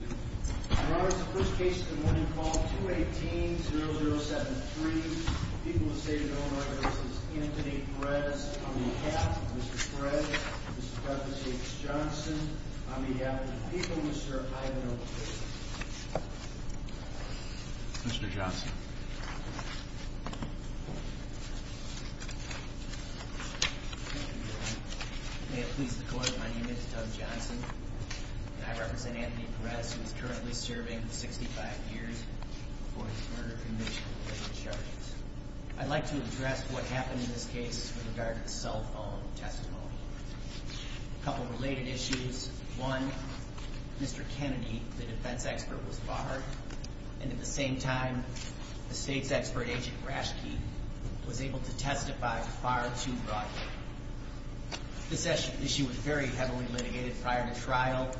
I'm going to say to the people of the United States, this is Anthony Perez. On behalf of Mr. Perez, Mr. Preface, Mr. Johnson, on behalf of the people, Mr. Ivan O. Perez. Mr. Johnson. Thank you, Your Honor. May it please the Court, my name is Doug Johnson, and I represent Anthony Perez, who is currently serving 65 years before his murder conviction by the charges. I'd like to address what happened in this case with regard to the cell phone testimony. A couple related issues, one, Mr. Kennedy, the defense expert, was barred, and at the same time the state's expert agent far too broadly. This issue was very heavily litigated prior to trial.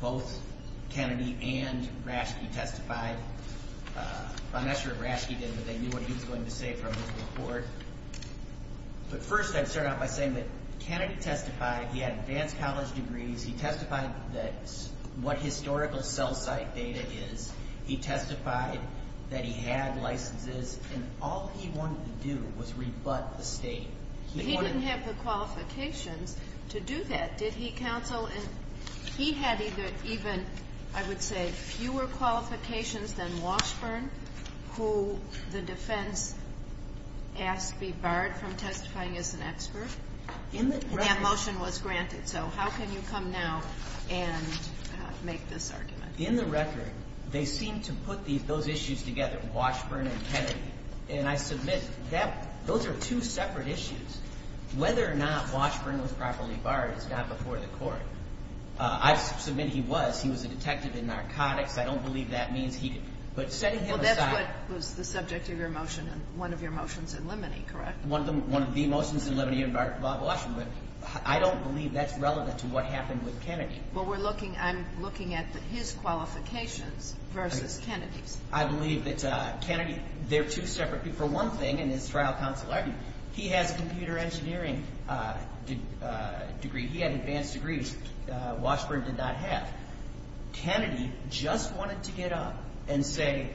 Both Kennedy and Rashke testified. I'm not sure Rashke did, but they knew what he was going to say from his report. But first, I'd start out by saying that Kennedy testified, he had advanced college degrees, he testified that what historical cell site data is, he testified that he had licenses, and all he wanted to do was rebut the state. But he didn't have the qualifications to do that. Did he counsel? He had even, I would say, fewer qualifications than Washburn, who the defense asked be barred from testifying as an expert. That motion was granted, so how can you come now and make this argument? In the record, they seem to put those issues together, Washburn and Kennedy, and I submit those are two separate issues. Whether or not Washburn was properly barred is not before the Court. I submit he was. He was a detective in narcotics. I don't believe that means he could, but setting him aside Well, that's what was the subject of your motion and one of your motions in limine, correct? One of the motions in limine involved Washburn, but I don't believe that's relevant to what happened with Kennedy. Well, I'm looking at his qualifications versus Kennedy's. I believe that Kennedy, they're two separate people. For one thing, in his computer engineering degree, he had advanced degrees Washburn did not have. Kennedy just wanted to get up and say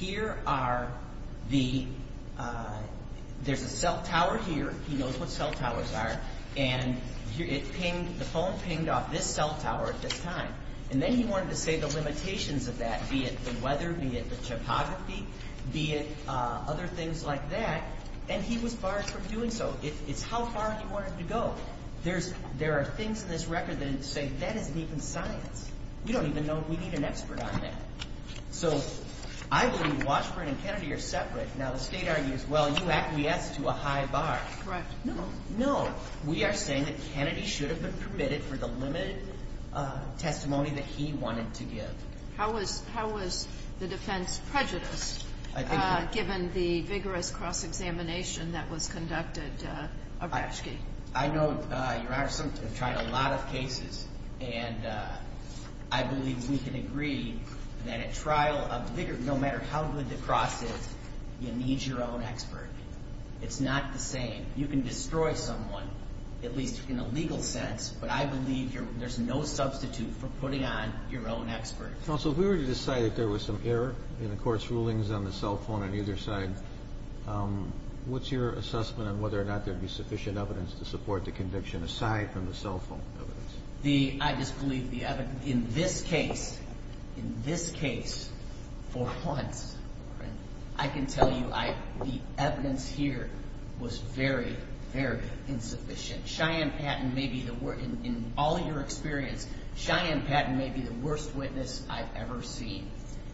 here are the there's a cell tower here, he knows what cell towers are, and the phone pinged off this cell tower at this time, and then he wanted to say the limitations of that, be it the weather, be it the topography, be it other things like that, and he was barred from doing so. It's how far he wanted to go. There's, there are things in this record that say that isn't even science. We don't even know, we need an expert on that. So, I believe Washburn and Kennedy are separate. Now, the State argues, well, you act yes to a high bar. Correct. No. No. We are saying that Kennedy should have been permitted for the limited testimony that he wanted to give. How was, how was the defense prejudiced? I think given the vigorous cross-examination that was conducted of Reschke. I know Your Honor, we've tried a lot of cases and I believe we can agree that a trial of vigorous, no matter how good the cross is, you need your own expert. It's not the same. You can destroy someone, at least in a legal sense, but I believe there's no substitute for putting on your own expert. Counsel, if we were to decide that there was some error in the court's rulings on the cell phone on either side, what's your assessment on whether or not there would be sufficient evidence to support the conviction aside from the cell phone evidence? I just believe the evidence, in this case, in this case, for once, I can tell you the evidence here was very, very insufficient. Cheyenne Patton may be the worst in all of your experience, Cheyenne Patton may be the worst witness I've ever seen.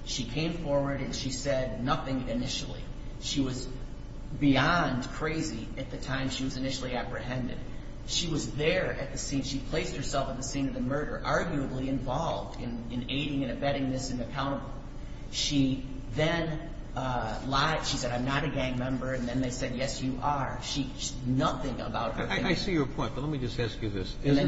She came forward and she said nothing initially. She was beyond crazy at the time she was initially apprehended. She was there at the scene. She placed herself at the scene of the murder, arguably involved in aiding and abetting this and accountable. She then lied. She said, I'm not a gang member, and then they said, yes, you are. She, nothing about her Isn't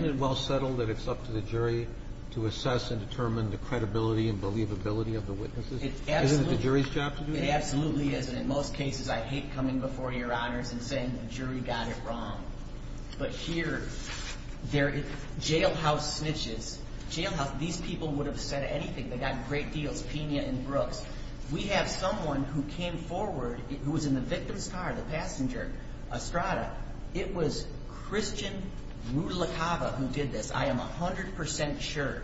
it well settled that it's up to the jury to assess and determine the credibility and believability of the witnesses? Isn't it the jury's job to do that? It absolutely is, and in most cases, I hate coming before your honors and saying the jury got it wrong. But here, jailhouse snitches, jailhouse, these people would have said anything. They got great deals, Pena and Brooks. We have someone who came forward, who was in the victim's car, the passenger, Estrada, it was Christian Rudlakava who did this. I am 100% sure.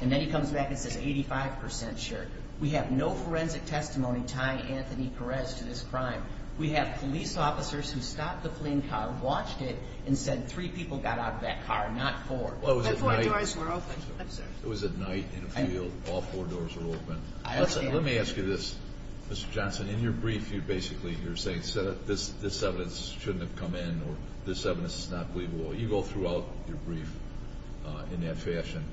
And then he comes back and says 85% sure. We have no forensic testimony tying Anthony Perez to this crime. We have police officers who stopped the fleeing car, watched it, and said three people got out of that car, not four. But four doors were open. It was at night, in a field, all four doors were open. Let me ask you this, Mr. Johnson, in your brief, you're basically saying this evidence shouldn't have come in, or this evidence is not believable. You go throughout your brief in that fashion.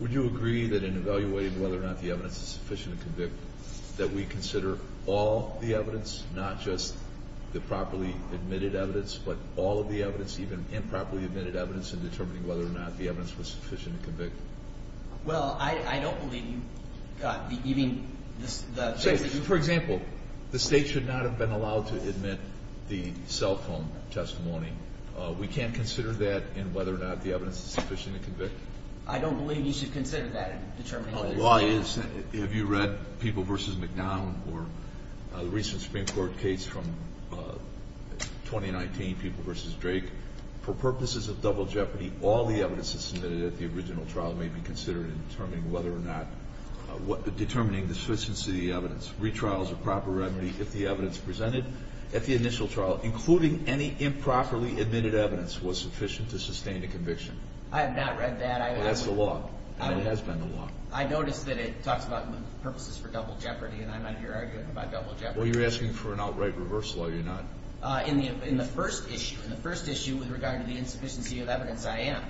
Would you agree that in evaluating whether or not the evidence is sufficient to convict that we consider all the evidence, not just the properly admitted evidence, but all of the evidence, even improperly admitted evidence in determining whether or not the evidence was sufficient to convict? Well, I don't believe you got even the... Say, for example, the state should not have been able to determine whether or not the evidence was sufficient to convict. I don't believe you should consider that in determining whether or not... Well, the law is, have you read People v. McDowell, or the recent Supreme Court case from 2019, People v. Drake? For purposes of double jeopardy, all the evidence that's submitted at the original trial may be considered in determining whether or not, determining the sufficiency of the evidence. Retrials are a proper remedy if the evidence presented at the initial trial, including any improperly admitted evidence, was sufficient to sustain a conviction. I have not read that. Well, that's the law. And it has been the law. I noticed that it talks about purposes for double jeopardy, and I'm out here arguing about double jeopardy. Well, you're asking for an outright reversal, are you not? In the first issue, in the first issue, with regard to the insufficiency of evidence, I am.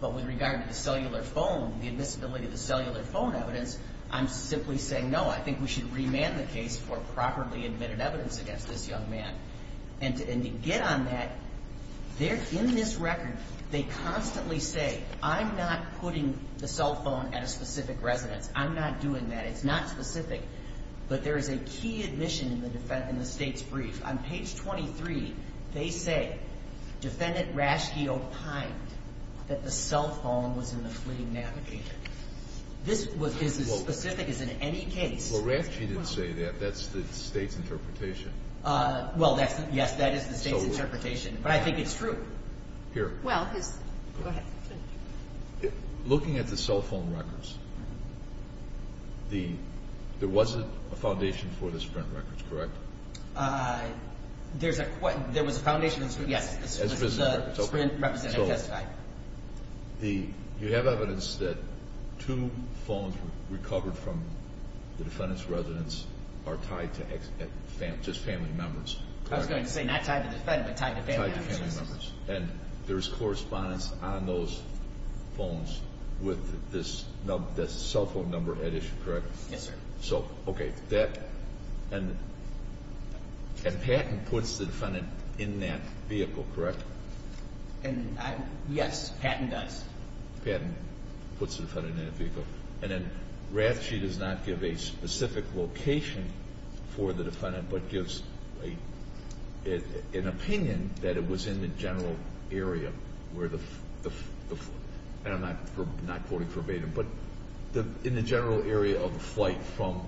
But with regard to cellular phone, the admissibility of the cellular phone evidence, I'm simply saying, no, I think we should remand the case for properly admitted evidence against this young man. And to get on that, in this record, they constantly say, I'm not putting the cell phone at a specific residence. I'm not doing that. It's not specific. But there is a key admission in the State's brief. On page 23, they say, Defendant Raschke opined that the cell phone was in the fleet navigator. This is as specific as in any case. Well, Raschke didn't say that. That's the State's interpretation. Well, yes, that is the State's interpretation. But I think it's true. Here. Well, go ahead. Looking at the cell phone records, there wasn't a foundation for the Sprint records, correct? There was a foundation, yes. The Sprint representative testified. You have evidence that two Defendant's residence are tied to just family members. I was going to say not tied to the Defendant, but tied to family members. And there's correspondence on those phones with this cell phone number at issue, correct? Yes, sir. And Patton puts the Defendant in that vehicle, correct? Yes, Patton does. Patton puts the Defendant in that vehicle. And then Raschke does not give a specific location for the Defendant, but gives an opinion that it was in the general area where the and I'm not quoting verbatim, but in the general area of the flight from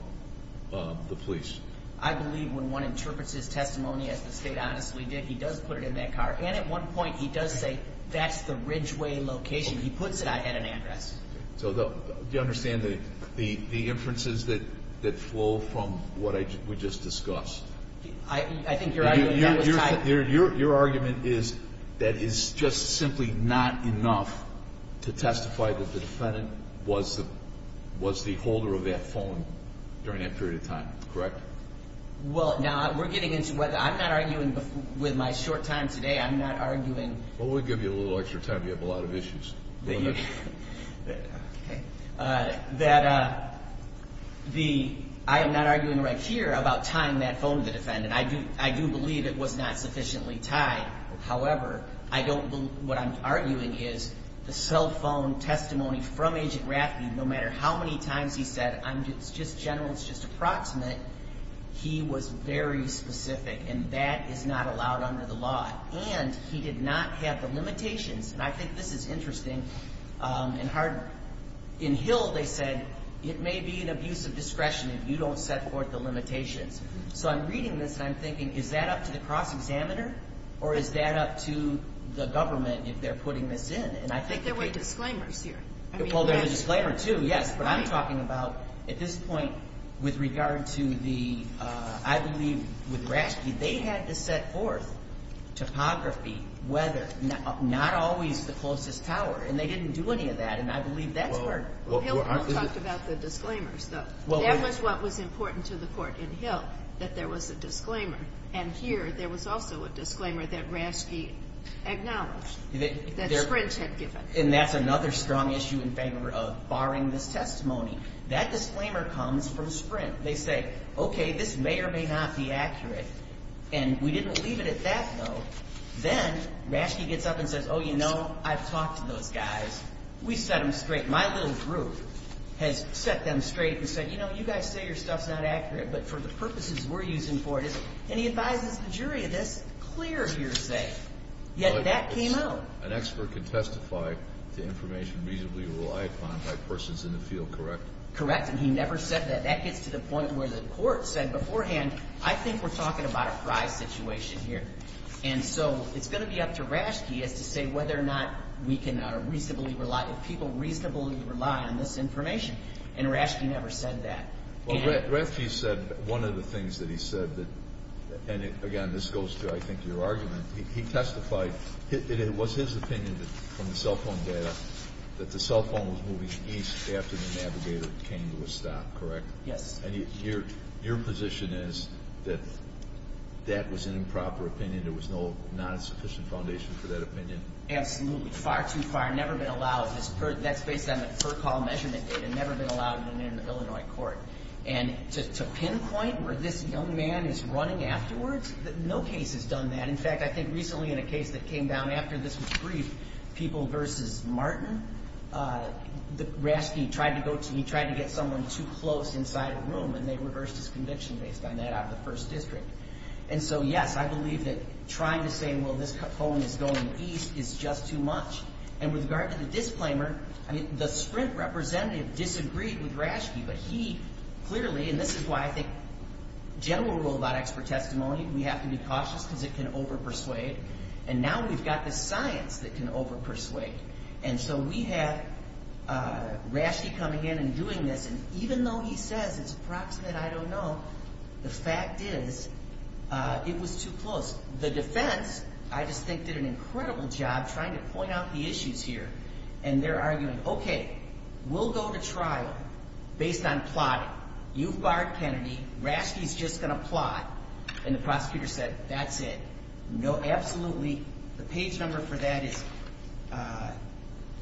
the police. I believe when one interprets his testimony, as the State honestly did, he does put it in that car. And at one point, he does say, that's the Ridgeway location. He puts it in that car. And And that's where I had an address. So, do you understand the inferences that flow from what we just discussed? I think you're right. Your argument is that it's just simply not enough to testify that the Defendant was the holder of that phone during that period of time, correct? I'm not arguing with my short time today. I'm not arguing Well, we'll give you a little extra time. You have a lot of issues. I am not arguing right here about tying that phone to the Defendant. I do believe it was not sufficiently tied. However, I don't believe what I'm arguing is the cell phone testimony from Agent Raschke, no matter how many times he said, it's just general, it's just approximate, he was very specific. And that is not allowed under the law. And he did not have the limitations. And I think this is interesting and hard. In Hill, they said, it may be an abuse of discretion if you don't set forth the limitations. So I'm reading this, and I'm thinking, is that up to the cross-examiner? Or is that up to the government if they're putting this in? I think there were disclaimers here. Well, there's a disclaimer, too, yes. But I'm talking about, at this point, with regard to the, I believe, with Raschke, they had to set forth topography, weather, not always the closest tower. And they didn't do any of that. And I believe that's where Hill talked about the disclaimers, though. That was what was important to the Court in Hill, that there was a disclaimer. And here, there was also a disclaimer that Raschke acknowledged, that Sprinch had given. And that's another strong issue in favor of barring this testimony. That disclaimer comes from Sprinch. They say, okay, this may or may not be accurate. And we didn't leave it at that, though. Then, Raschke gets up and says, oh, you know, I've talked to those guys. We set them straight. My little group has set them straight and said, you know, you guys say your stuff's not accurate, but for the purposes we're using for it, and he advises the jury, that's clear hearsay. Yet that came out. An expert can testify to information reasonably relied upon by persons in the field, correct? Correct. And he never said that. That gets to the point where the Court said beforehand, I think we're talking about a prize situation here. And so it's going to be up to Raschke as to say whether or not we can reasonably rely, if people reasonably rely on this information. And Raschke never one of the things that he said, and again, this goes to, I think, your argument, he testified that it was his opinion from the cell phone data that the cell phone was moving east after the navigator came to a stop, correct? Yes. And your position is that that was an improper opinion. There was no non-sufficient foundation for that opinion? Absolutely. Far too far. Never been allowed. That's based on the per call measurement data. Never been allowed in an Illinois court. And to pinpoint where this young man is running afterwards? No case has done that. In fact, I think recently in a case that came down after this was briefed, people versus Martin, Raschke tried to get someone too close inside a room and they reversed his conviction based on that out of the first district. And so, yes, I believe that trying to say, well, this phone is going east is just too much. And with regard to the disclaimer, the Sprint representative disagreed with Raschke, but he clearly, and this is why I think general rule about expert testimony, we have to be cautious because it can overpersuade. And now we've got the science that can overpersuade. And so we have Raschke coming in and doing this, and even though he says it's approximate, I don't know, the fact is it was too close. The defense, I just think, did an incredible job trying to point out the issues here. And they're arguing, okay, we'll go to trial based on plotting. You've barred Kennedy. Raschke's just going to plot. And the prosecutor said, that's it. No, absolutely. The page number for that is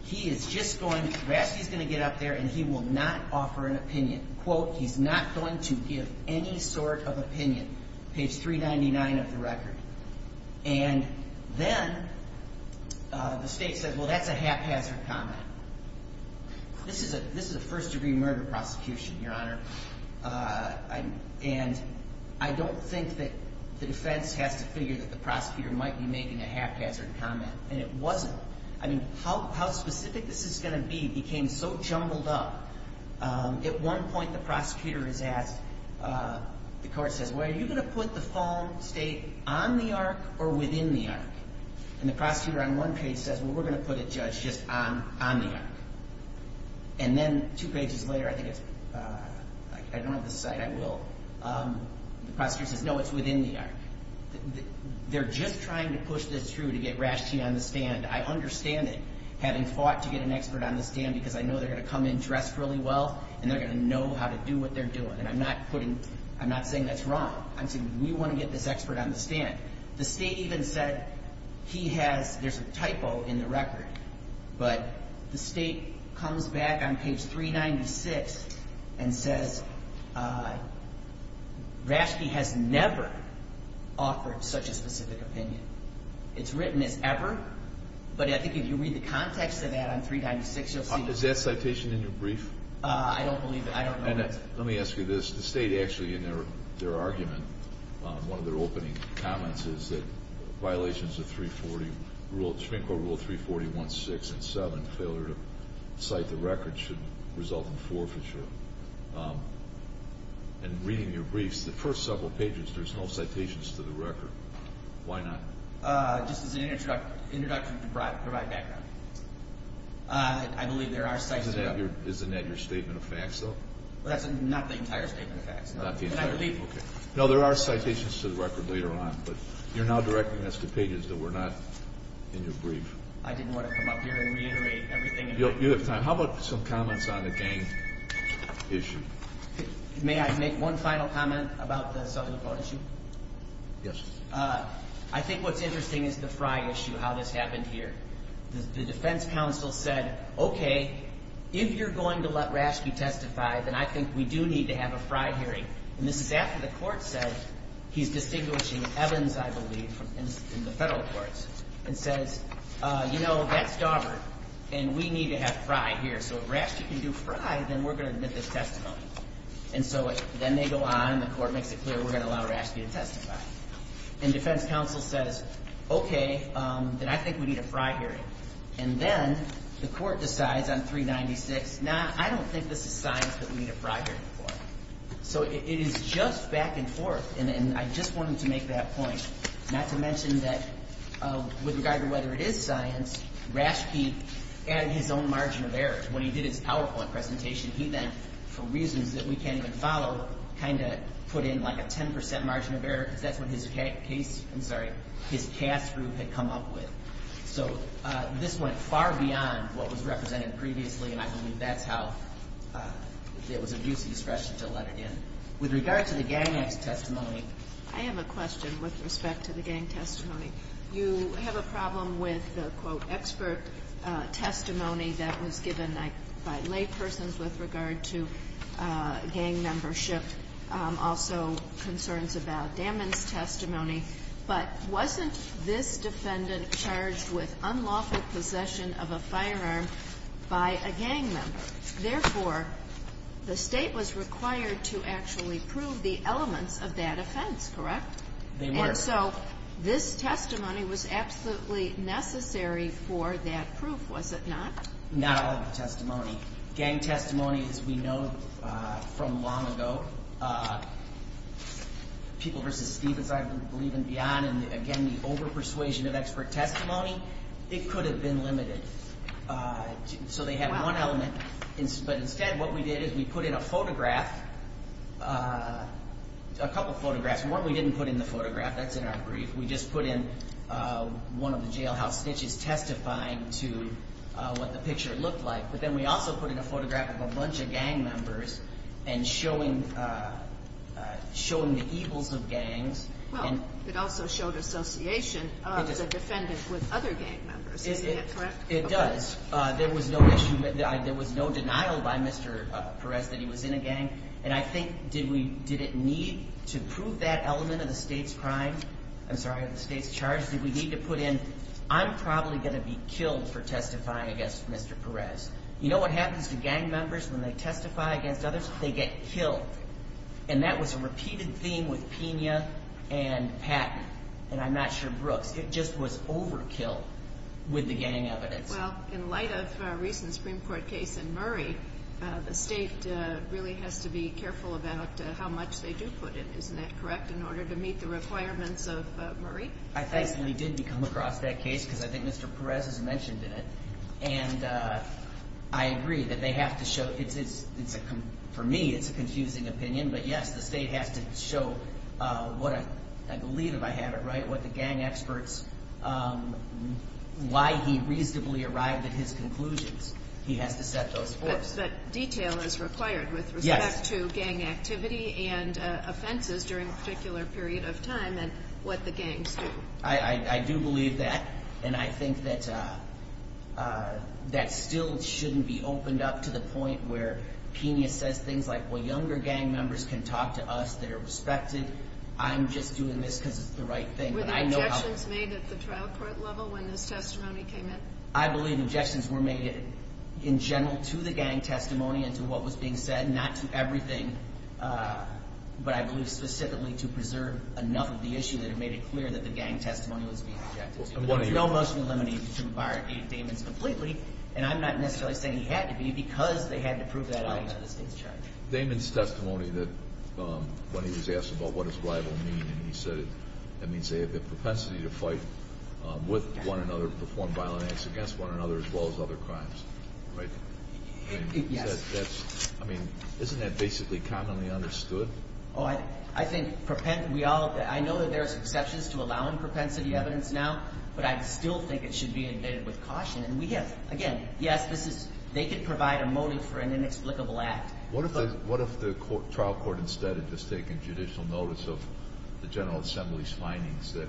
he is just going, Raschke's going to get up there and he will not offer an opinion. Quote, he's not going to give any sort of opinion. Page 399 of the record. And then the state said, well, that's a haphazard comment. This is a first-degree murder prosecution, Your Honor. And I don't think that the defense has to figure that the prosecutor might be making a haphazard comment. And it wasn't. I mean, how specific this is going to be became so jumbled up. At one point, the prosecutor is asked, the court says, well, are you going to put the fall state on the arc or within the arc? And the prosecutor on one page says, well, we're going to put a judge just on the arc. And then two pages later, I think it's, I don't have the site. I will. The prosecutor says, no, it's within the arc. They're just trying to push this through to get Raschke on the stand. I understand it, having fought to get an expert on the stand because I know they're going to come in dressed really well and they're going to know how to do what they're doing. And I'm not putting, I'm not saying that's wrong. I'm saying we want to get this expert on the stand. The state even said he has, there's a typo in the record, but the state comes back on page 396 and says, Raschke has never offered such a specific opinion. It's written as ever, but I think if you read the context of that on 396, you'll see. Is that citation in your brief? I don't believe it. Let me ask you this. The state actually in their argument, one of their opening comments is that violations of 340, Supreme Court Rule 340.1.6 and 7, failure to cite the record should result in forfeiture. And reading your briefs, the first several pages, there's no citations to the record. Why not? Just as an introduction to provide background. I believe there are citations. Isn't that your statement of facts, though? That's not the entire statement of facts. Not the entire statement, okay. No, there are citations to the record later on, but you're now directing us to pages that were not in your brief. I didn't want to come up here and reiterate everything. You have time. How about some comments on the gang issue? May I make one final comment about the Southern Dakota issue? Yes. I think what's interesting is the Frye issue, how this happened here. The defense counsel said, okay, if you're going to let Raschke testify, then I think we do need to have a Frye hearing. And this is after the court said, he's distinguishing Evans, I believe, in the federal courts, and says, you know, that's Daubert, and we need to have Frye here. So if Raschke can do Frye, then we're going to admit this testimony. And so then they go on, and the court makes it clear, we're going to allow Raschke to testify. And defense counsel says, okay, then I think we need a Frye hearing. And then the court decides on 396, nah, I don't think this is science that we need a Frye hearing for. So it is just back and forth, and I just wanted to make that point. Not to mention that with regard to whether it is science, Raschke added his own margin of error. When he did his PowerPoint presentation, he then, for reasons that we can't even follow, kind of put in like a 10% margin of error, because that's what his CAS group had come up with. So this went far beyond what was represented previously, and I believe that's how there was a use of discretion to let it in. With regard to the gang member's testimony. I have a question with respect to the gang testimony. You have a problem with the quote, expert testimony that was given by lay persons with regard to gang membership. Also, concerns about Daman's testimony. But wasn't this defendant charged with unlawful possession of a firearm by a gang member? Therefore, the state was required to actually prove the elements of that offense, correct? And so, this testimony was absolutely necessary for that proof, was it not? Not all of the testimony. Gang testimony, as we know from long ago, people versus Stevens, I believe, and beyond, and again, the over-persuasion of expert testimony, it could have been limited. So they had one element. But instead, what we did is we put in a photograph, a couple photographs. One we didn't put in the photograph. That's in our brief. We just put in one of the jailhouse snitches testifying to what the picture looked like. But then we also put in a photograph of a bunch of gang members and showing the evils of gangs. Well, it also showed association of the defendant with other gang members. Is that correct? It does. There was no denial by Mr. Perez that he was in a gang. And I think did it need to prove that element of the state's crime? I'm sorry, of the state's charge. Did we need to put in, I'm probably going to be killed for testifying against Mr. Perez. You know what happens to gang members when they testify against others? They get killed. And that was a repeated theme with Pena and Patton, and I'm not sure with Brooks. It just was overkill with the gang evidence. Well, in light of a recent Supreme Court case in Murray, the state really has to be careful about how much they do put in. Isn't that correct? In order to meet the requirements of Murray? I think we did come across that case because I think Mr. Perez has mentioned it. And I agree that they have to show it's a, for me, it's a confusing opinion. But yes, the state has to show what I believe if I have it right, what the gang experts why he reasonably arrived at his conclusions. He has to set those forth. But detail is required with respect to gang activity and offenses during a particular period of time and what the gangs do. I do believe that. And I think that that still shouldn't be opened up to the point where Pena says things like, well, younger gang members can talk to us. They're respected. I'm just doing this because it's the right thing. Were there objections made at the trial court level when this testimony came in? I believe objections were made in general to the gang testimony and to what was being said. Not to everything. But I believe specifically to preserve enough of the issue that it made it clear that the gang testimony was being objected to. There's no motion to eliminate or to bar Dave Demons completely. And I'm not necessarily saying he had to be because they had to prove that out to the state's judge. Demons' testimony that when he was asked about what his rival mean and he said it, that means they had the propensity to fight with one another, perform violent acts against one another as well as other crimes, right? Yes. I mean, isn't that basically commonly understood? Oh, I think we all, I know that there's exceptions to allowing propensity evidence now, but I still think it should be invaded with caution. And we have, again, yes, this is, they could provide a motive for an inexplicable act. What if the trial court instead had just taken judicial notice of the General Assembly's findings that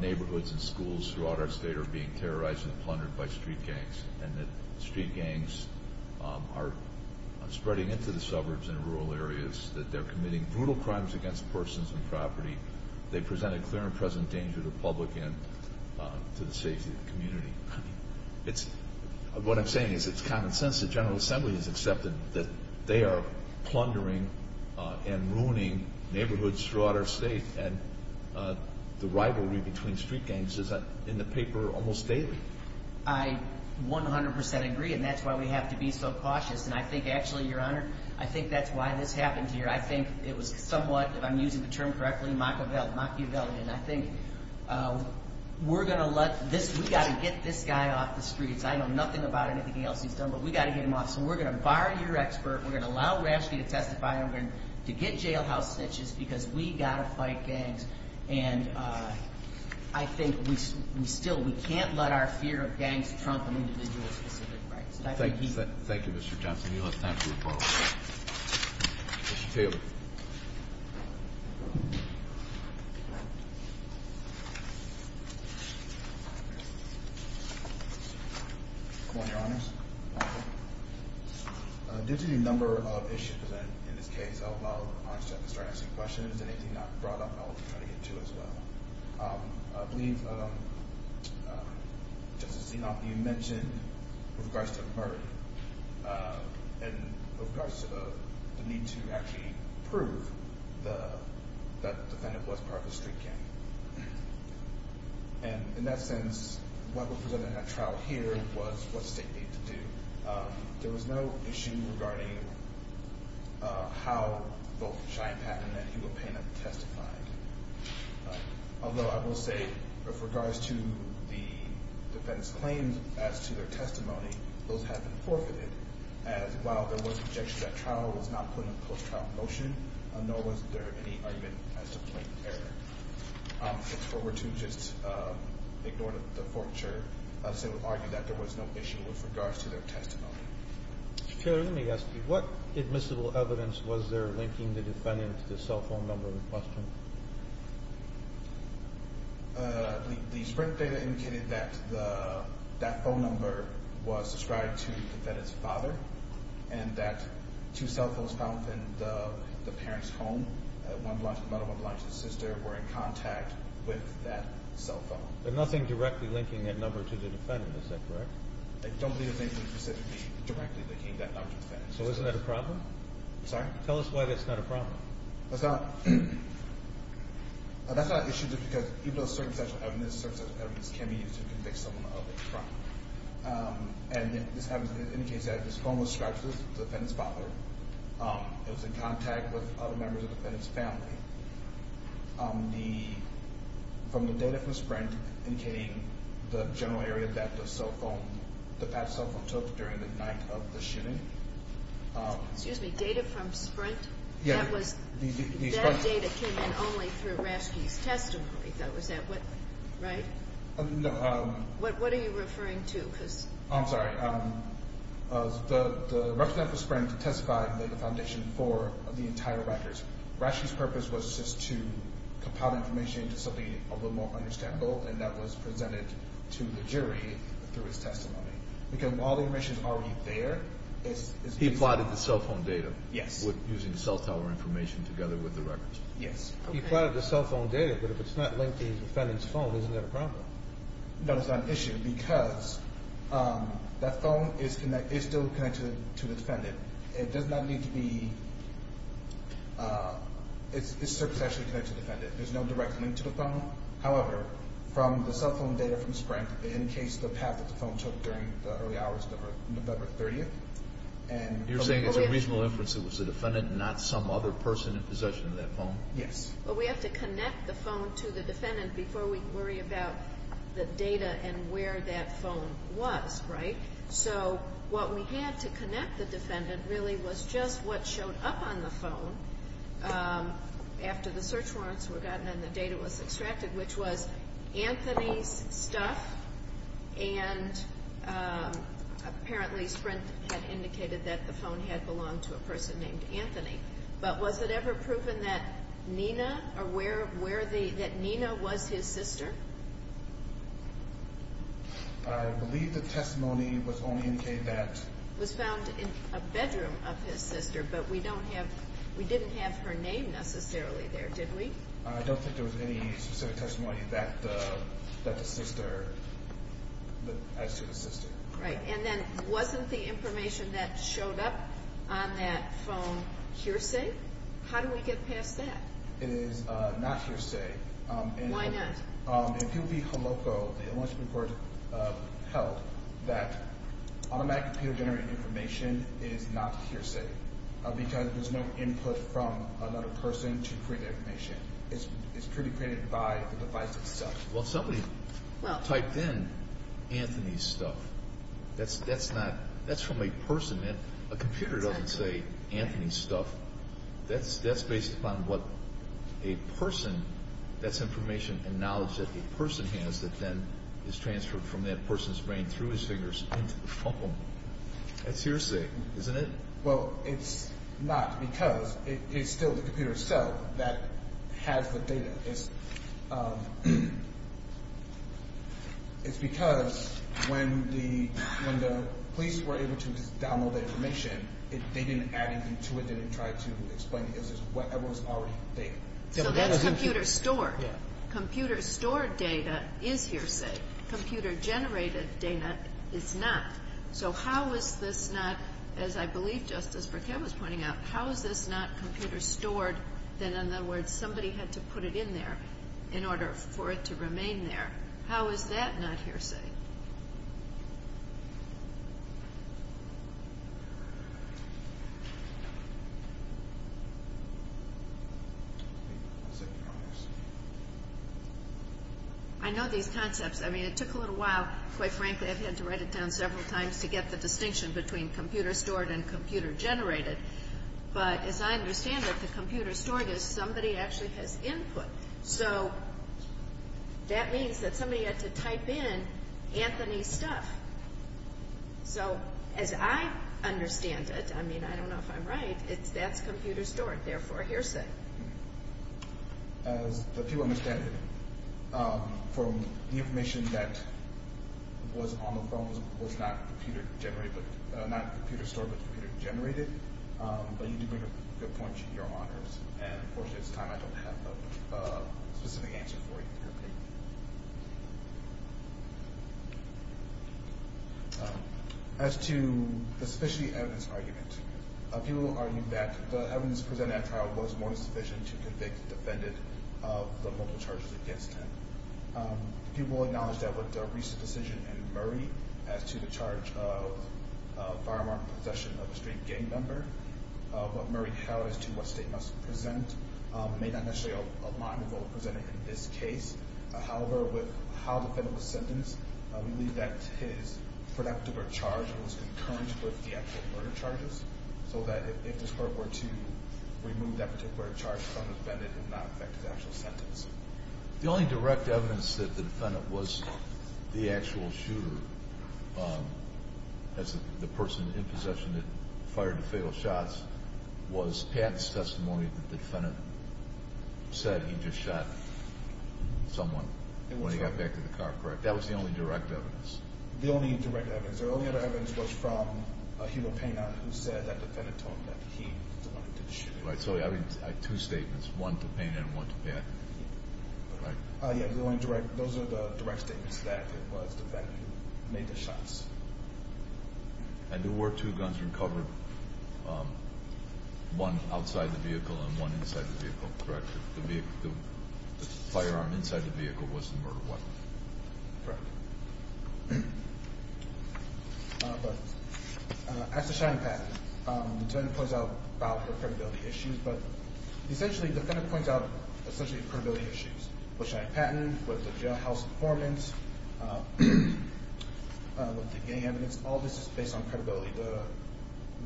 neighborhoods and schools throughout our state are being terrorized and plundered by street gangs, and that street gangs are spreading into the suburbs and rural areas, that they're committing brutal crimes against persons and property. They present a clear and present danger to the public and to the safety of the community. It's, what I'm saying is it's common sense that General Assembly has accepted that they are plundering and ruining neighborhoods throughout our state and the rivalry between street gangs is in the paper almost daily. I 100% agree, and that's why we have to be so cautious. And I think actually, Your Honor, I think that's why this happened here. I think it was somewhat, if I'm using the term correctly, Machiavellian. I think we're going to let this, we've got to get this guy off the streets. I know nothing about anything else he's done, but we've got to get him off. So we're going to bar your expert, we're going to allow Rashdie to testify, and we're going to get jailhouse snitches because we've got to fight gangs, and I think we still, we can't let our fear of gangs trump an individual's specific rights. Thank you, Mr. Johnson. You'll have time to report. Mr. Taylor. Good morning, Your Honors. Due to the number of issues in this case, I'll start asking questions, and anything not brought up, I'll try to get to as well. I believe Justice Zinoff, you mentioned with regards to the murder, and with regards to the need to actually prove that the defendant was part of a street gang. And in that sense, what was presented in that trial here was what the state needed to do. There was no issue regarding how both Cheyenne Patton and Hugo Payne have testified. Although I will say, with regards to the defendant's claims as to their testimony, those have been forfeited, as while there was objection, that trial was not put in a post-trial motion, nor was there any argument as to point of error. I look forward to just ignoring the forfeiture as they would argue that there was no issue with regards to their testimony. Mr. Taylor, let me ask you, what admissible evidence was there linking the defendant to the cell phone number in question? The sprint data indicated that that phone number was ascribed to the defendant's father, and that two cell phones found within the parent's home, one belonged to the mother, one belonged to the sister, were in contact with that cell phone. There's nothing directly linking that number to the defendant, is that correct? I don't believe there's anything specifically directly linking that number to the defendant. So isn't that a problem? Sorry? Tell us why that's not a problem. That's not an issue because even though certain sets of evidence can be used to convict someone of a crime, and ascribed to the defendant's father, it was in contact with other members of the family from the data from Sprint indicating the general area that the cell phone took during the night of the shooting. Excuse me, data from Sprint? That data came in only through Raschke's testimony, is that right? No. What are you referring to? I'm sorry, the representative of Sprint testified in the foundation for the entire records. Raschke's purpose was just to compile information into something understandable and that was presented to the jury through his testimony. Because while the information is already there, it's... He plotted the cell phone data using cell tower information together with the records. Yes. He plotted the cell phone data, but if it's not linked to the defendant's phone, isn't that a problem? No, it's not an issue because that phone is still connected to the defendant. It does not need to be... It's successfully connected to the defendant. There's no direct link to the phone. However, from the cell phone data from Sprint, in case the path that the phone took during the early hours of November 30th and... You're saying it's a reasonable inference it was the defendant and not some other person in possession of that phone? Yes. But we have to connect the phone to the defendant before we worry about the data and where that phone was, right? So what we had to connect the defendant really was just what showed up on the phone after the search warrants were gotten and the data was extracted, which was Anthony's stuff and apparently Sprint had indicated that the phone had belonged to a person named Anthony. But was it ever proven that Nina or where the... That Nina was his sister? I believe the testimony was only indicated that it was found in a bedroom of his sister, but we don't have... We didn't have her name necessarily there, did we? I don't think there was any specific testimony that the sister asked you to assist in. Right. And then wasn't the information that showed up on that phone hearsay? How do we get past that? It is not hearsay. Why not? In POV Holoco, it was reported or held that automatic computer information is not hearsay because there is no input from another person to create information. It is created by the device itself. Well, somebody typed in Anthony's stuff. That's not... That's from a person. A computer doesn't say Anthony's stuff. That's based upon what a person... That's information and knowledge that the person has that then is transferred from that person's brain through his fingers into the phone. That's hearsay, isn't it? Well, it's not because it's still the computer itself that has the data. It's... It's because when the police were able to download the information, they didn't add anything to it. They didn't try to explain it. It was already there. So that's computer-stored. Computer-stored data is hearsay. Computer-generated data is not. So how is this not, as I believe Justice Burkett was pointing out, how is this not computer-stored, that in other words somebody had to put it in there in order for it to remain there? How is that not hearsay? I know these concepts. I mean, it took a little while. Quite frankly, I've had to write it down several times to get the distinction between computer-stored and computer-generated. But as I understand it, the computer-stored is somebody actually has input. So that means that somebody had to type in Anthony's stuff. So as I understand it, I mean, I don't know if I'm right, that's computer-stored, therefore hearsay. As the people understand it, from the information that was on the phone was not computer-stored but computer-generated, but you do make a good point, Your Honor, and unfortunately it's time I don't have a specific answer for you. As to the specialty evidence argument, people argue that the evidence presented at trial was more than sufficient to convict the defendant of the multiple charges against him. People acknowledge that with the recent decision in Murray, as to the charge of firearm possession of a street gang member, what Murray held as to what state must present may not necessarily align with what was presented in this case. However, with how the defendant was sentenced, we believe that his productive or charge was concurrent with the actual murder charges so that if this court were to remove that particular charge from the defendant, it would not affect his actual sentence. The only direct evidence that the defendant was the actual shooter as the person in possession that fired the fatal shots was Pat's testimony that the defendant said he just shot someone when he got back to the car, correct? That was the only direct evidence. The only direct evidence, the only other evidence was from Hugo Pena who said that the defendant told him that he wanted to shoot. Right, so I have two statements, one to Pena and one to Pat. Right. Yeah, the only direct, those are the direct statements that it was the defendant who made the shots. And there were two guns recovered, one outside the vehicle and one inside the vehicle, correct? The firearm inside the vehicle was the murder weapon. Correct. But as to Cheyenne Patton, the defendant points out about her credibility issues, but essentially, the defendant points out essentially credibility issues. With Cheyenne Patton, with the jailhouse informants, with the gang evidence, all this is based on credibility.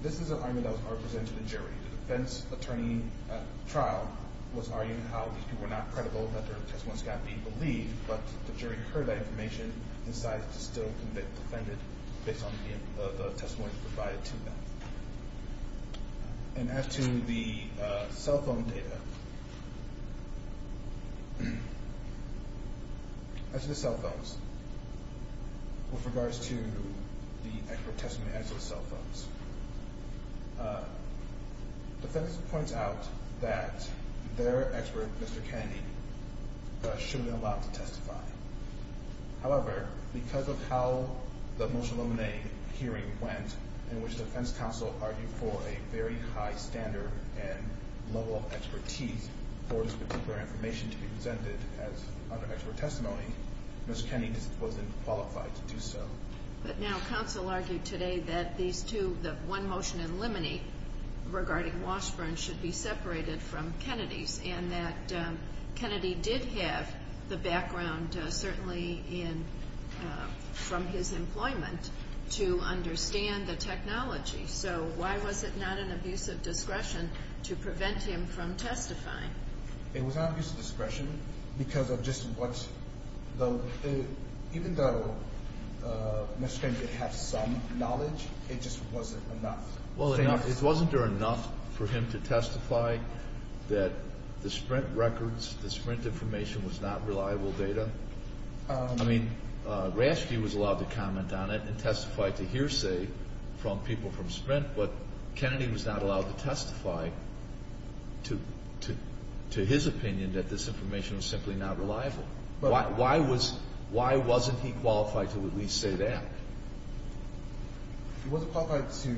This is an argument that was presented to the jury. The defense attorney at trial was arguing how these people were not credible, that their testimony was not being believed, but the jury heard that information and decided to still convict the defendant based on the testimony provided to them. And as to the cell phone data, as to the cell phones, with regards to the expert testimony as to the cell phones, the defense points out that their expert, Mr. Kennedy, should be allowed to testify. However, because of how the motion limine hearing went, in which the defense counsel argued for a very high standard and level of expertise for this particular information to be presented as under expert testimony, Mr. Kennedy wasn't qualified to do so. But now, counsel argued today that these two, the one motion in limine regarding Washburn should be separated from Kennedy's and that Kennedy did have the background, certainly in from his employment, to understand the technology. So, why was it not an abuse of discretion to prevent him from testifying? It was not an abuse of discretion because of just what, even though Mr. Kennedy had some knowledge, it just wasn't enough. It wasn't enough for him to testify that the Sprint records, the Sprint information was not reliable data. I mean, Raschke was allowed to comment on it and testify to hearsay from people from Sprint, but Kennedy was not allowed to testify to his opinion that this information was simply not reliable. Why wasn't he qualified to at least say that? He wasn't qualified to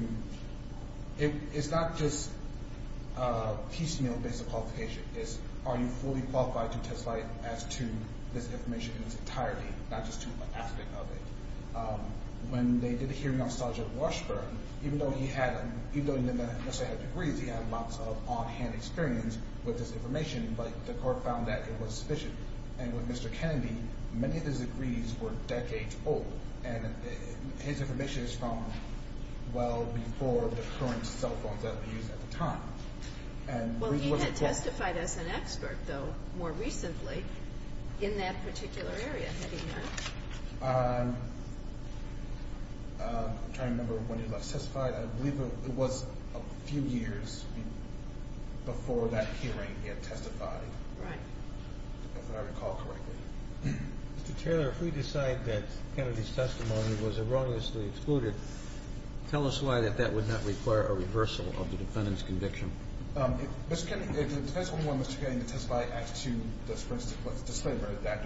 It's not just a piecemeal basic qualification. It's are you fully qualified to testify as to this information in its entirety, not just to an aspect of it. When they did a hearing on Sergeant Washburn, even though he didn't necessarily have degrees, he had lots of on-hand experience with this information, but the court found that it was sufficient. And with Mr. Kennedy, many of his degrees were decades old and his information is from well before the current cell phones that were used at the time. Well, he had testified as an expert, though, more recently, in that particular area, had he not? I'm trying to remember when he last testified. I believe it was a few years before that hearing he had testified. Right. If I recall correctly. Mr. Taylor, if we decide that Kennedy's testimony was erroneously excluded, tell us why that that would not require a reversal of the defendant's conviction. If the defense only wanted Mr. Kennedy to testify as to the Sprint's disclaimer, that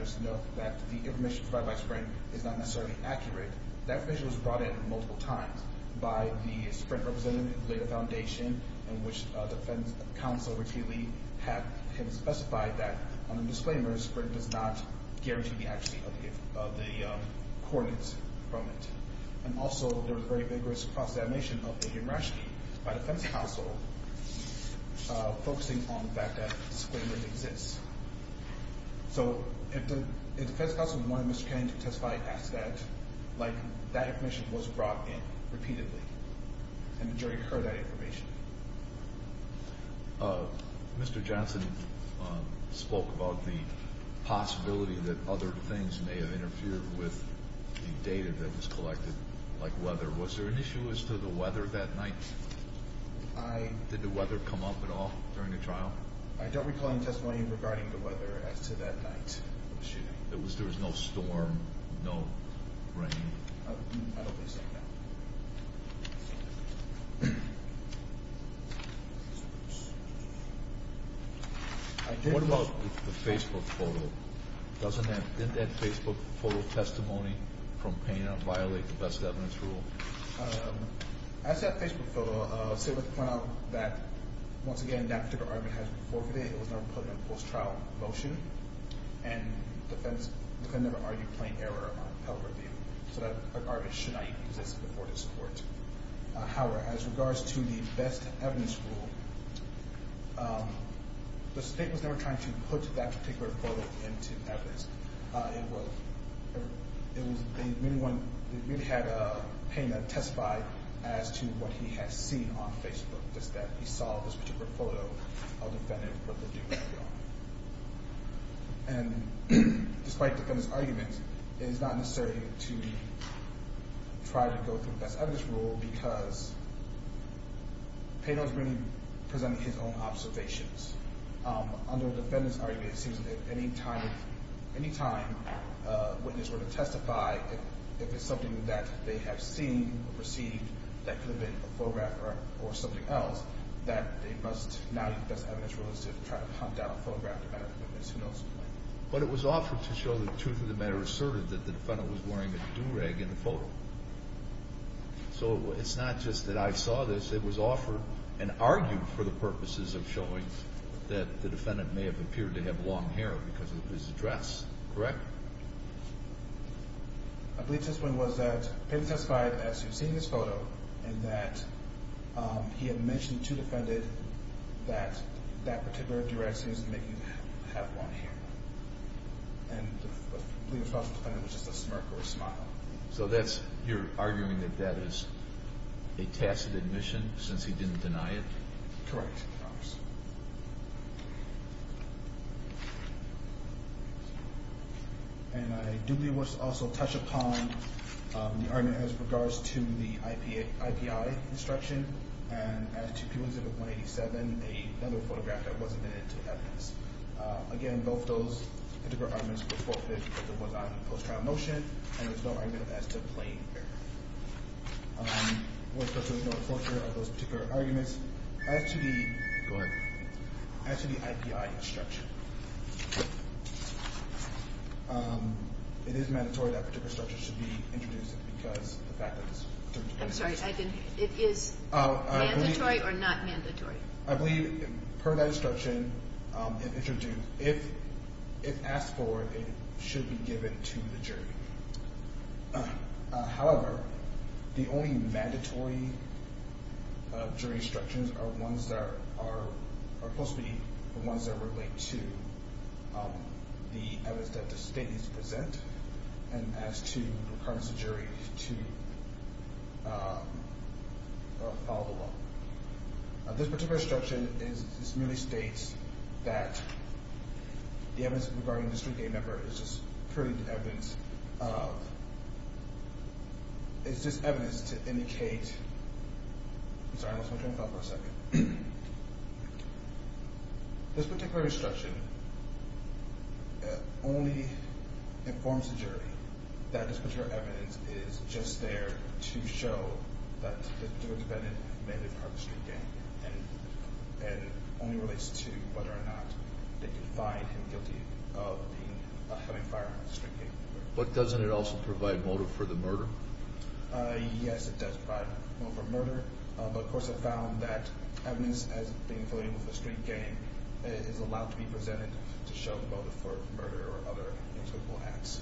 the information provided by Sprint is not necessarily accurate, that information was brought in multiple times by the Sprint representative at the foundation, in which the defense counsel repeatedly had him specify that on the disclaimer Sprint does not guarantee the accuracy of the coordinates from it. And also, there was a very vigorous cross-examination of A.M. Raschke by the defense counsel focusing on the fact that the disclaimer exists. So, if the defense counsel wanted Mr. Kennedy to testify as to that, like, that information was brought in repeatedly. And the jury heard that information. Mr. Johnson spoke about the possibility that other things may have interfered with the data that was collected, like weather. Was there an issue as to the weather that night? Did the weather come up at all during the trial? I don't recall any testimony regarding the weather as to that night. There was no storm, no rain. I don't think so, no. What about the Facebook photo? Doesn't that Facebook photo testimony from Pena violate the Best Evidence Rule? As to that Facebook photo, I'll say with the point out that once again, that particular argument has been forfeited. It was never put in a post-trial motion. And the defense could never argue plain error on public review. So that argument should not even exist before this Court. However, as regards to the Best Evidence Rule, the State was never trying to put that particular photo into evidence. It really had Pena testify as to what he had seen on Facebook, just that he saw this particular photo of the defendant with the new background. And despite the defendant's argument, it is not necessary to try to go through the Best Evidence Rule because Pena was really presenting his own observations. Under the defendant's argument, it seems that any time a witness were to testify, if it's something that they have seen or perceived that could have been a photograph or something else, that they must now use the Best Evidence Rule as to try to hunt down a photograph of another witness. Who knows? But it was offered to show the truth of the matter asserted that the defendant was wearing a do-rag in the photo. So it's not just that I saw this. It was offered and argued for the purposes of showing that the defendant may have appeared to have long hair because of his dress. Correct? I believe his point was that Pena testified as to seeing this photo and that he had mentioned to the defendant that that particular do-rag seems to make him have long hair. And the defendant was just a smirk or a smile. So you're arguing that that is a tacit admission since he didn't deny it? Correct. And I do wish to also touch upon the argument as regards to the IPI instruction and as to P187, another photograph that wasn't admitted to evidence. Again, both those arguments were forfeited because it was on post-trial motion and there was no argument as to plain hair. I want to touch on those particular arguments. As to the IPI instruction, it is mandatory that particular instruction should be introduced because of the fact that it's mandatory or not mandatory. I believe per that instruction, if asked for, it should be given to the jury. However, the only mandatory jury instructions are ones that are supposed to be the ones that relate to the evidence that the state needs to present and as to requirements of the jury to follow the law. This particular instruction merely states that the evidence regarding the street gang member is just evidence of it's just evidence to indicate I'm sorry, I lost my train of thought for a second. This particular instruction only informs the jury that this particular evidence is just there to show that the defendant may be part of the street gang and only relates to whether or not they can find him guilty of having fired a street gang member. But doesn't it also provide motive for the murder? Yes, it does provide motive for murder but of course I found that evidence as being affiliated with the street gang is allowed to be presented to show the motive for murder or other intangible acts.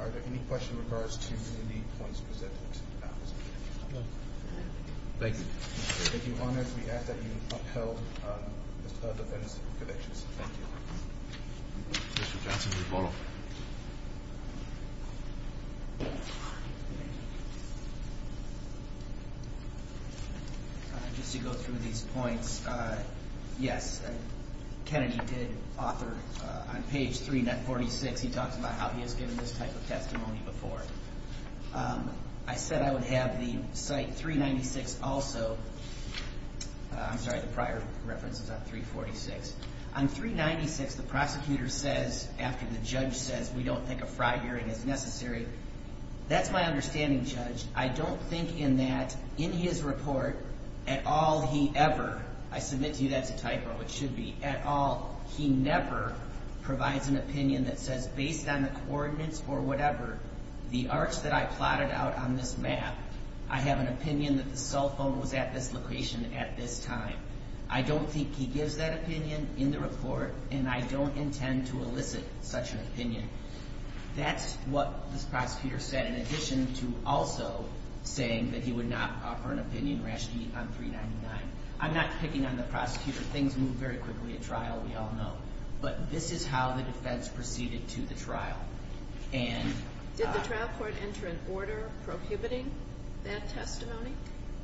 Are there any questions in regards to the points presented? No. Thank you. We ask that you uphold the defendant's convictions. Thank you. Mr. Johnson, please follow up. Just to go through these points yes, Kennedy did author on page 346, he talks about how he has given this type of testimony before. I said I would have the site 396 also I'm sorry the prior reference is on 346. On 396 the prosecutor says after the judge says we don't think a fraud hearing is necessary that's my understanding judge I don't think in that in his report at all he ever, I submit to you that's a typo, it should be, at all he never provides an opinion that says based on the coordinates or whatever, the arts that I have an opinion that the cell phone was at this location at this time. I don't think he gives that opinion in the report and I don't intend to elicit such an opinion. That's what this prosecutor said in addition to also saying that he would not offer an opinion rationally on 399. I'm not picking on the prosecutor things move very quickly at trial we all know but this is how the defense proceeded to the trial. Did the trial court enter an order prohibiting that testimony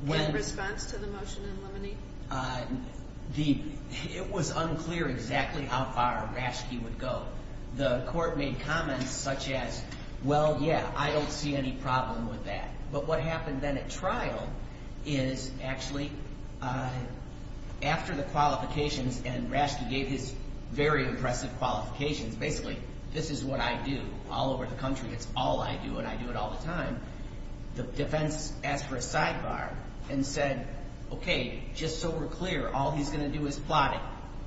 in response to the motion in limine? It was unclear exactly how far Raschke would go. The court made comments such as well yeah I don't see any problem with that but what happened then at trial is actually after the qualifications and Raschke gave his very impressive qualifications basically this is what I do all over the country it's all I do and I do it all the time the defense asked for a sidebar and said okay just so we're clear all he's going to do is plot it.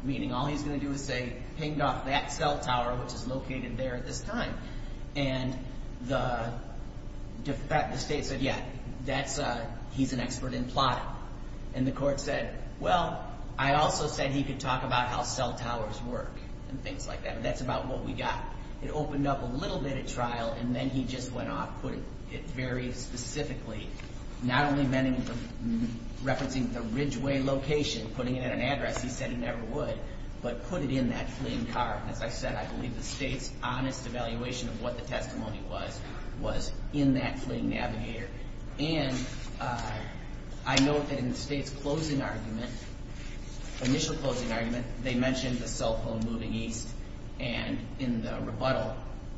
Meaning all he's going to do is say pinged off that cell tower which is located there at this time and the state said yeah that's uh he's an expert in plotting and the court said well I also said he could talk about how cell towers work and things like that but that's about what we got. It opened up a little bit at trial and then he just went off put it very specifically not only meant referencing the Ridgeway location putting it at an address he said he never would but put it in that fleeing car and as I said I believe the state's honest evaluation of what the testimony was was in that fleeing navigator and I note that in the state's closing argument initial closing argument they mentioned the cell phone moving east and in the rebuttal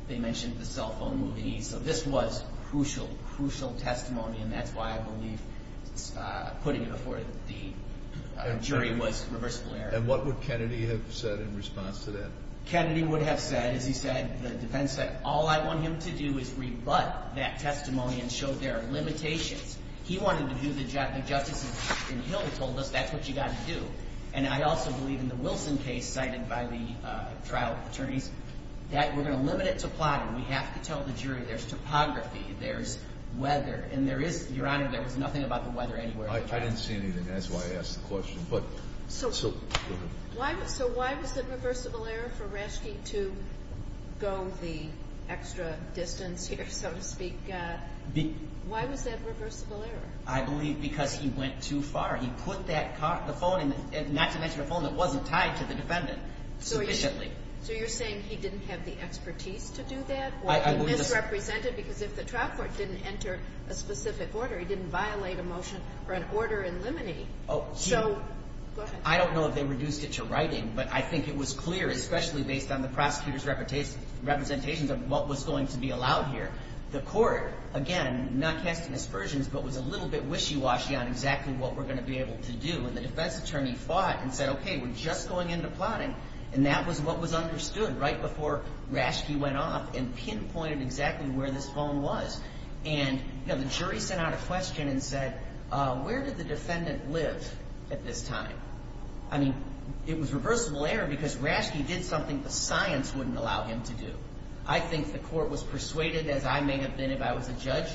they mentioned the cell phone moving east so this was crucial, crucial testimony and that's why I believe putting it before the jury was reversible error. And what would Kennedy have said in response to that? Kennedy would have said as he said the defense said all I want him to do is rebut that testimony and show there are limitations. He wanted to do the job, the justice in Hill told us that's what you got to do and I also believe in the Wilson case cited by the trial attorneys that we're going to limit it to plotting. We have to tell the jury there's topography, there's weather and there is, your honor, there was nothing about the weather anywhere. I didn't see anything that's why I asked the question but So why was it reversible error for Raschke to go the extra distance here so to speak why was that reversible error? I believe because he went too far, not to mention a phone that wasn't tied to the defendant sufficiently So you're saying he didn't have the expertise to do that or he misrepresented because if the trial court didn't enter a specific order, he didn't violate a motion or an order in limine So, go ahead I don't know if they reduced it to writing but I think it was clear, especially based on the prosecutor's representations of what was going to be allowed here. The court again, not casting aspersions but was a little bit wishy-washy on exactly what we're going to be able to do and the defense attorney fought and said, okay, we're just going into plotting and that was what was understood right before Raschke went off and pinpointed exactly where this phone was and the jury sent out a question and said where did the defendant live at this time? I mean it was reversible error because Raschke did something the science wouldn't allow him to do. I think the court was persuaded, as I may have been if I was a judge,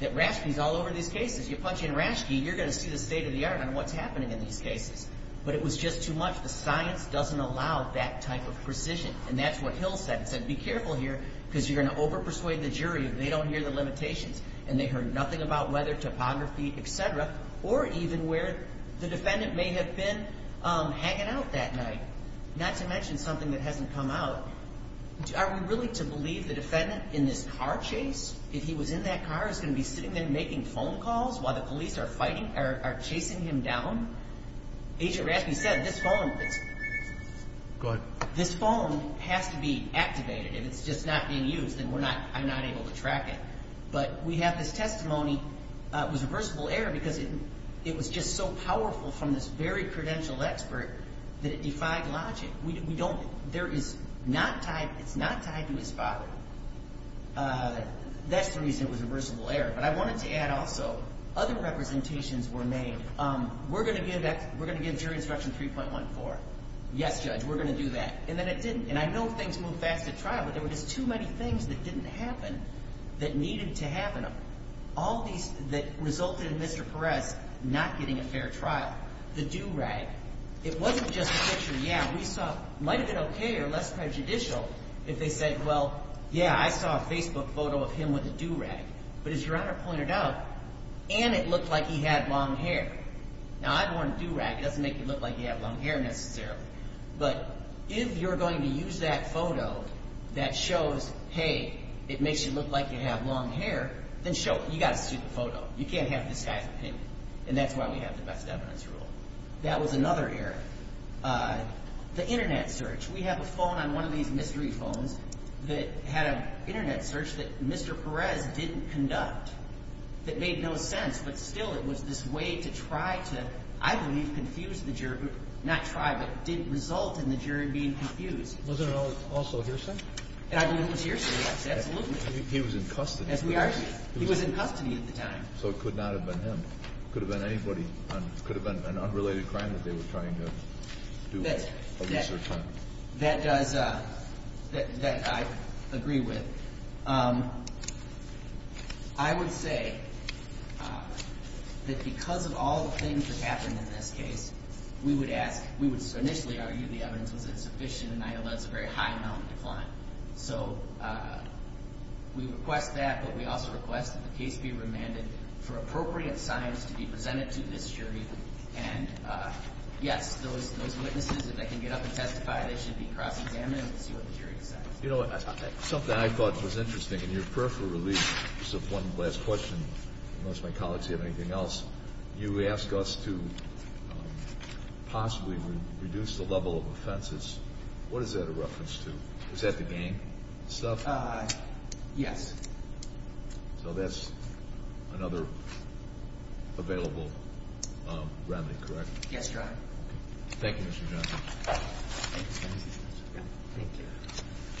that Raschke's all over these state of the art on what's happening in these cases but it was just too much. The science doesn't allow that type of precision and that's what Hill said. He said, be careful here because you're going to over-persuade the jury if they don't hear the limitations and they heard nothing about weather, topography, etc. or even where the defendant may have been hanging out that night, not to mention something that hasn't come out Are we really to believe the defendant in this car chase? If he was in that car, is he going to be sitting there making phone calls while the police are chasing him down? Agent Raschke said, this phone has to be activated. If it's just not being used, then I'm not able to track it. But we have this testimony it was reversible error because it was just so powerful from this very credential expert that it defied logic. It's not tied to his father. That's the reason it was reversible error. Other representations were made. We're going to give jury instruction 3.14. Yes, Judge, we're going to do that. And then it didn't. And I know things move fast at trial but there were just too many things that didn't happen that needed to happen. All these that resulted in Mr. Perez not getting a fair trial. The do-rag. It wasn't just a picture, yeah, we saw might have been okay or less prejudicial if they said, well, yeah, I saw a Facebook photo of him with a do-rag. But as Your Honor pointed out, and it looked like he had long hair. Now, I've worn a do-rag. It doesn't make me look like you have long hair necessarily. But if you're going to use that photo that shows hey, it makes you look like you have long hair, then show it. You got a stupid photo. You can't have this guy's opinion. And that's why we have the best evidence rule. That was another error. The internet search. We have a phone on one of these mystery phones that had an internet search that Mr. Perez didn't conduct that made no sense. But still, it was this way to try to, I believe, confuse the jury. Not try, but didn't result in the jury being confused. Wasn't it also hearsay? I believe it was hearsay. He was in custody. He was in custody at the time. So it could not have been him. It could have been an unrelated crime that they were trying to do a research on. That does that I agree with. I would say that because of all the things that happened in this case, we would ask we would initially argue the evidence wasn't sufficient, and I know that's a very high amount of decline. So we request that, but we also request that the case be remanded for appropriate signs to be presented to this jury. And yes, those witnesses, if they can get up and testify, they should be cross-examined and see what the jury decides. Something I thought was interesting, in your prayer for relief, just one last question unless my colleagues have anything else. You ask us to possibly reduce the level of offenses. What is that a reference to? Is that the gang stuff? Yes. So that's another available remedy, correct? Yes, Your Honor. Thank you, Mr. Johnson.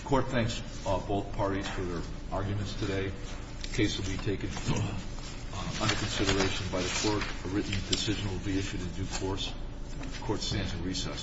Court thanks both parties for their arguments today. The case will be taken under consideration by the Court. A written decision will be issued in due course. Court stands in recess.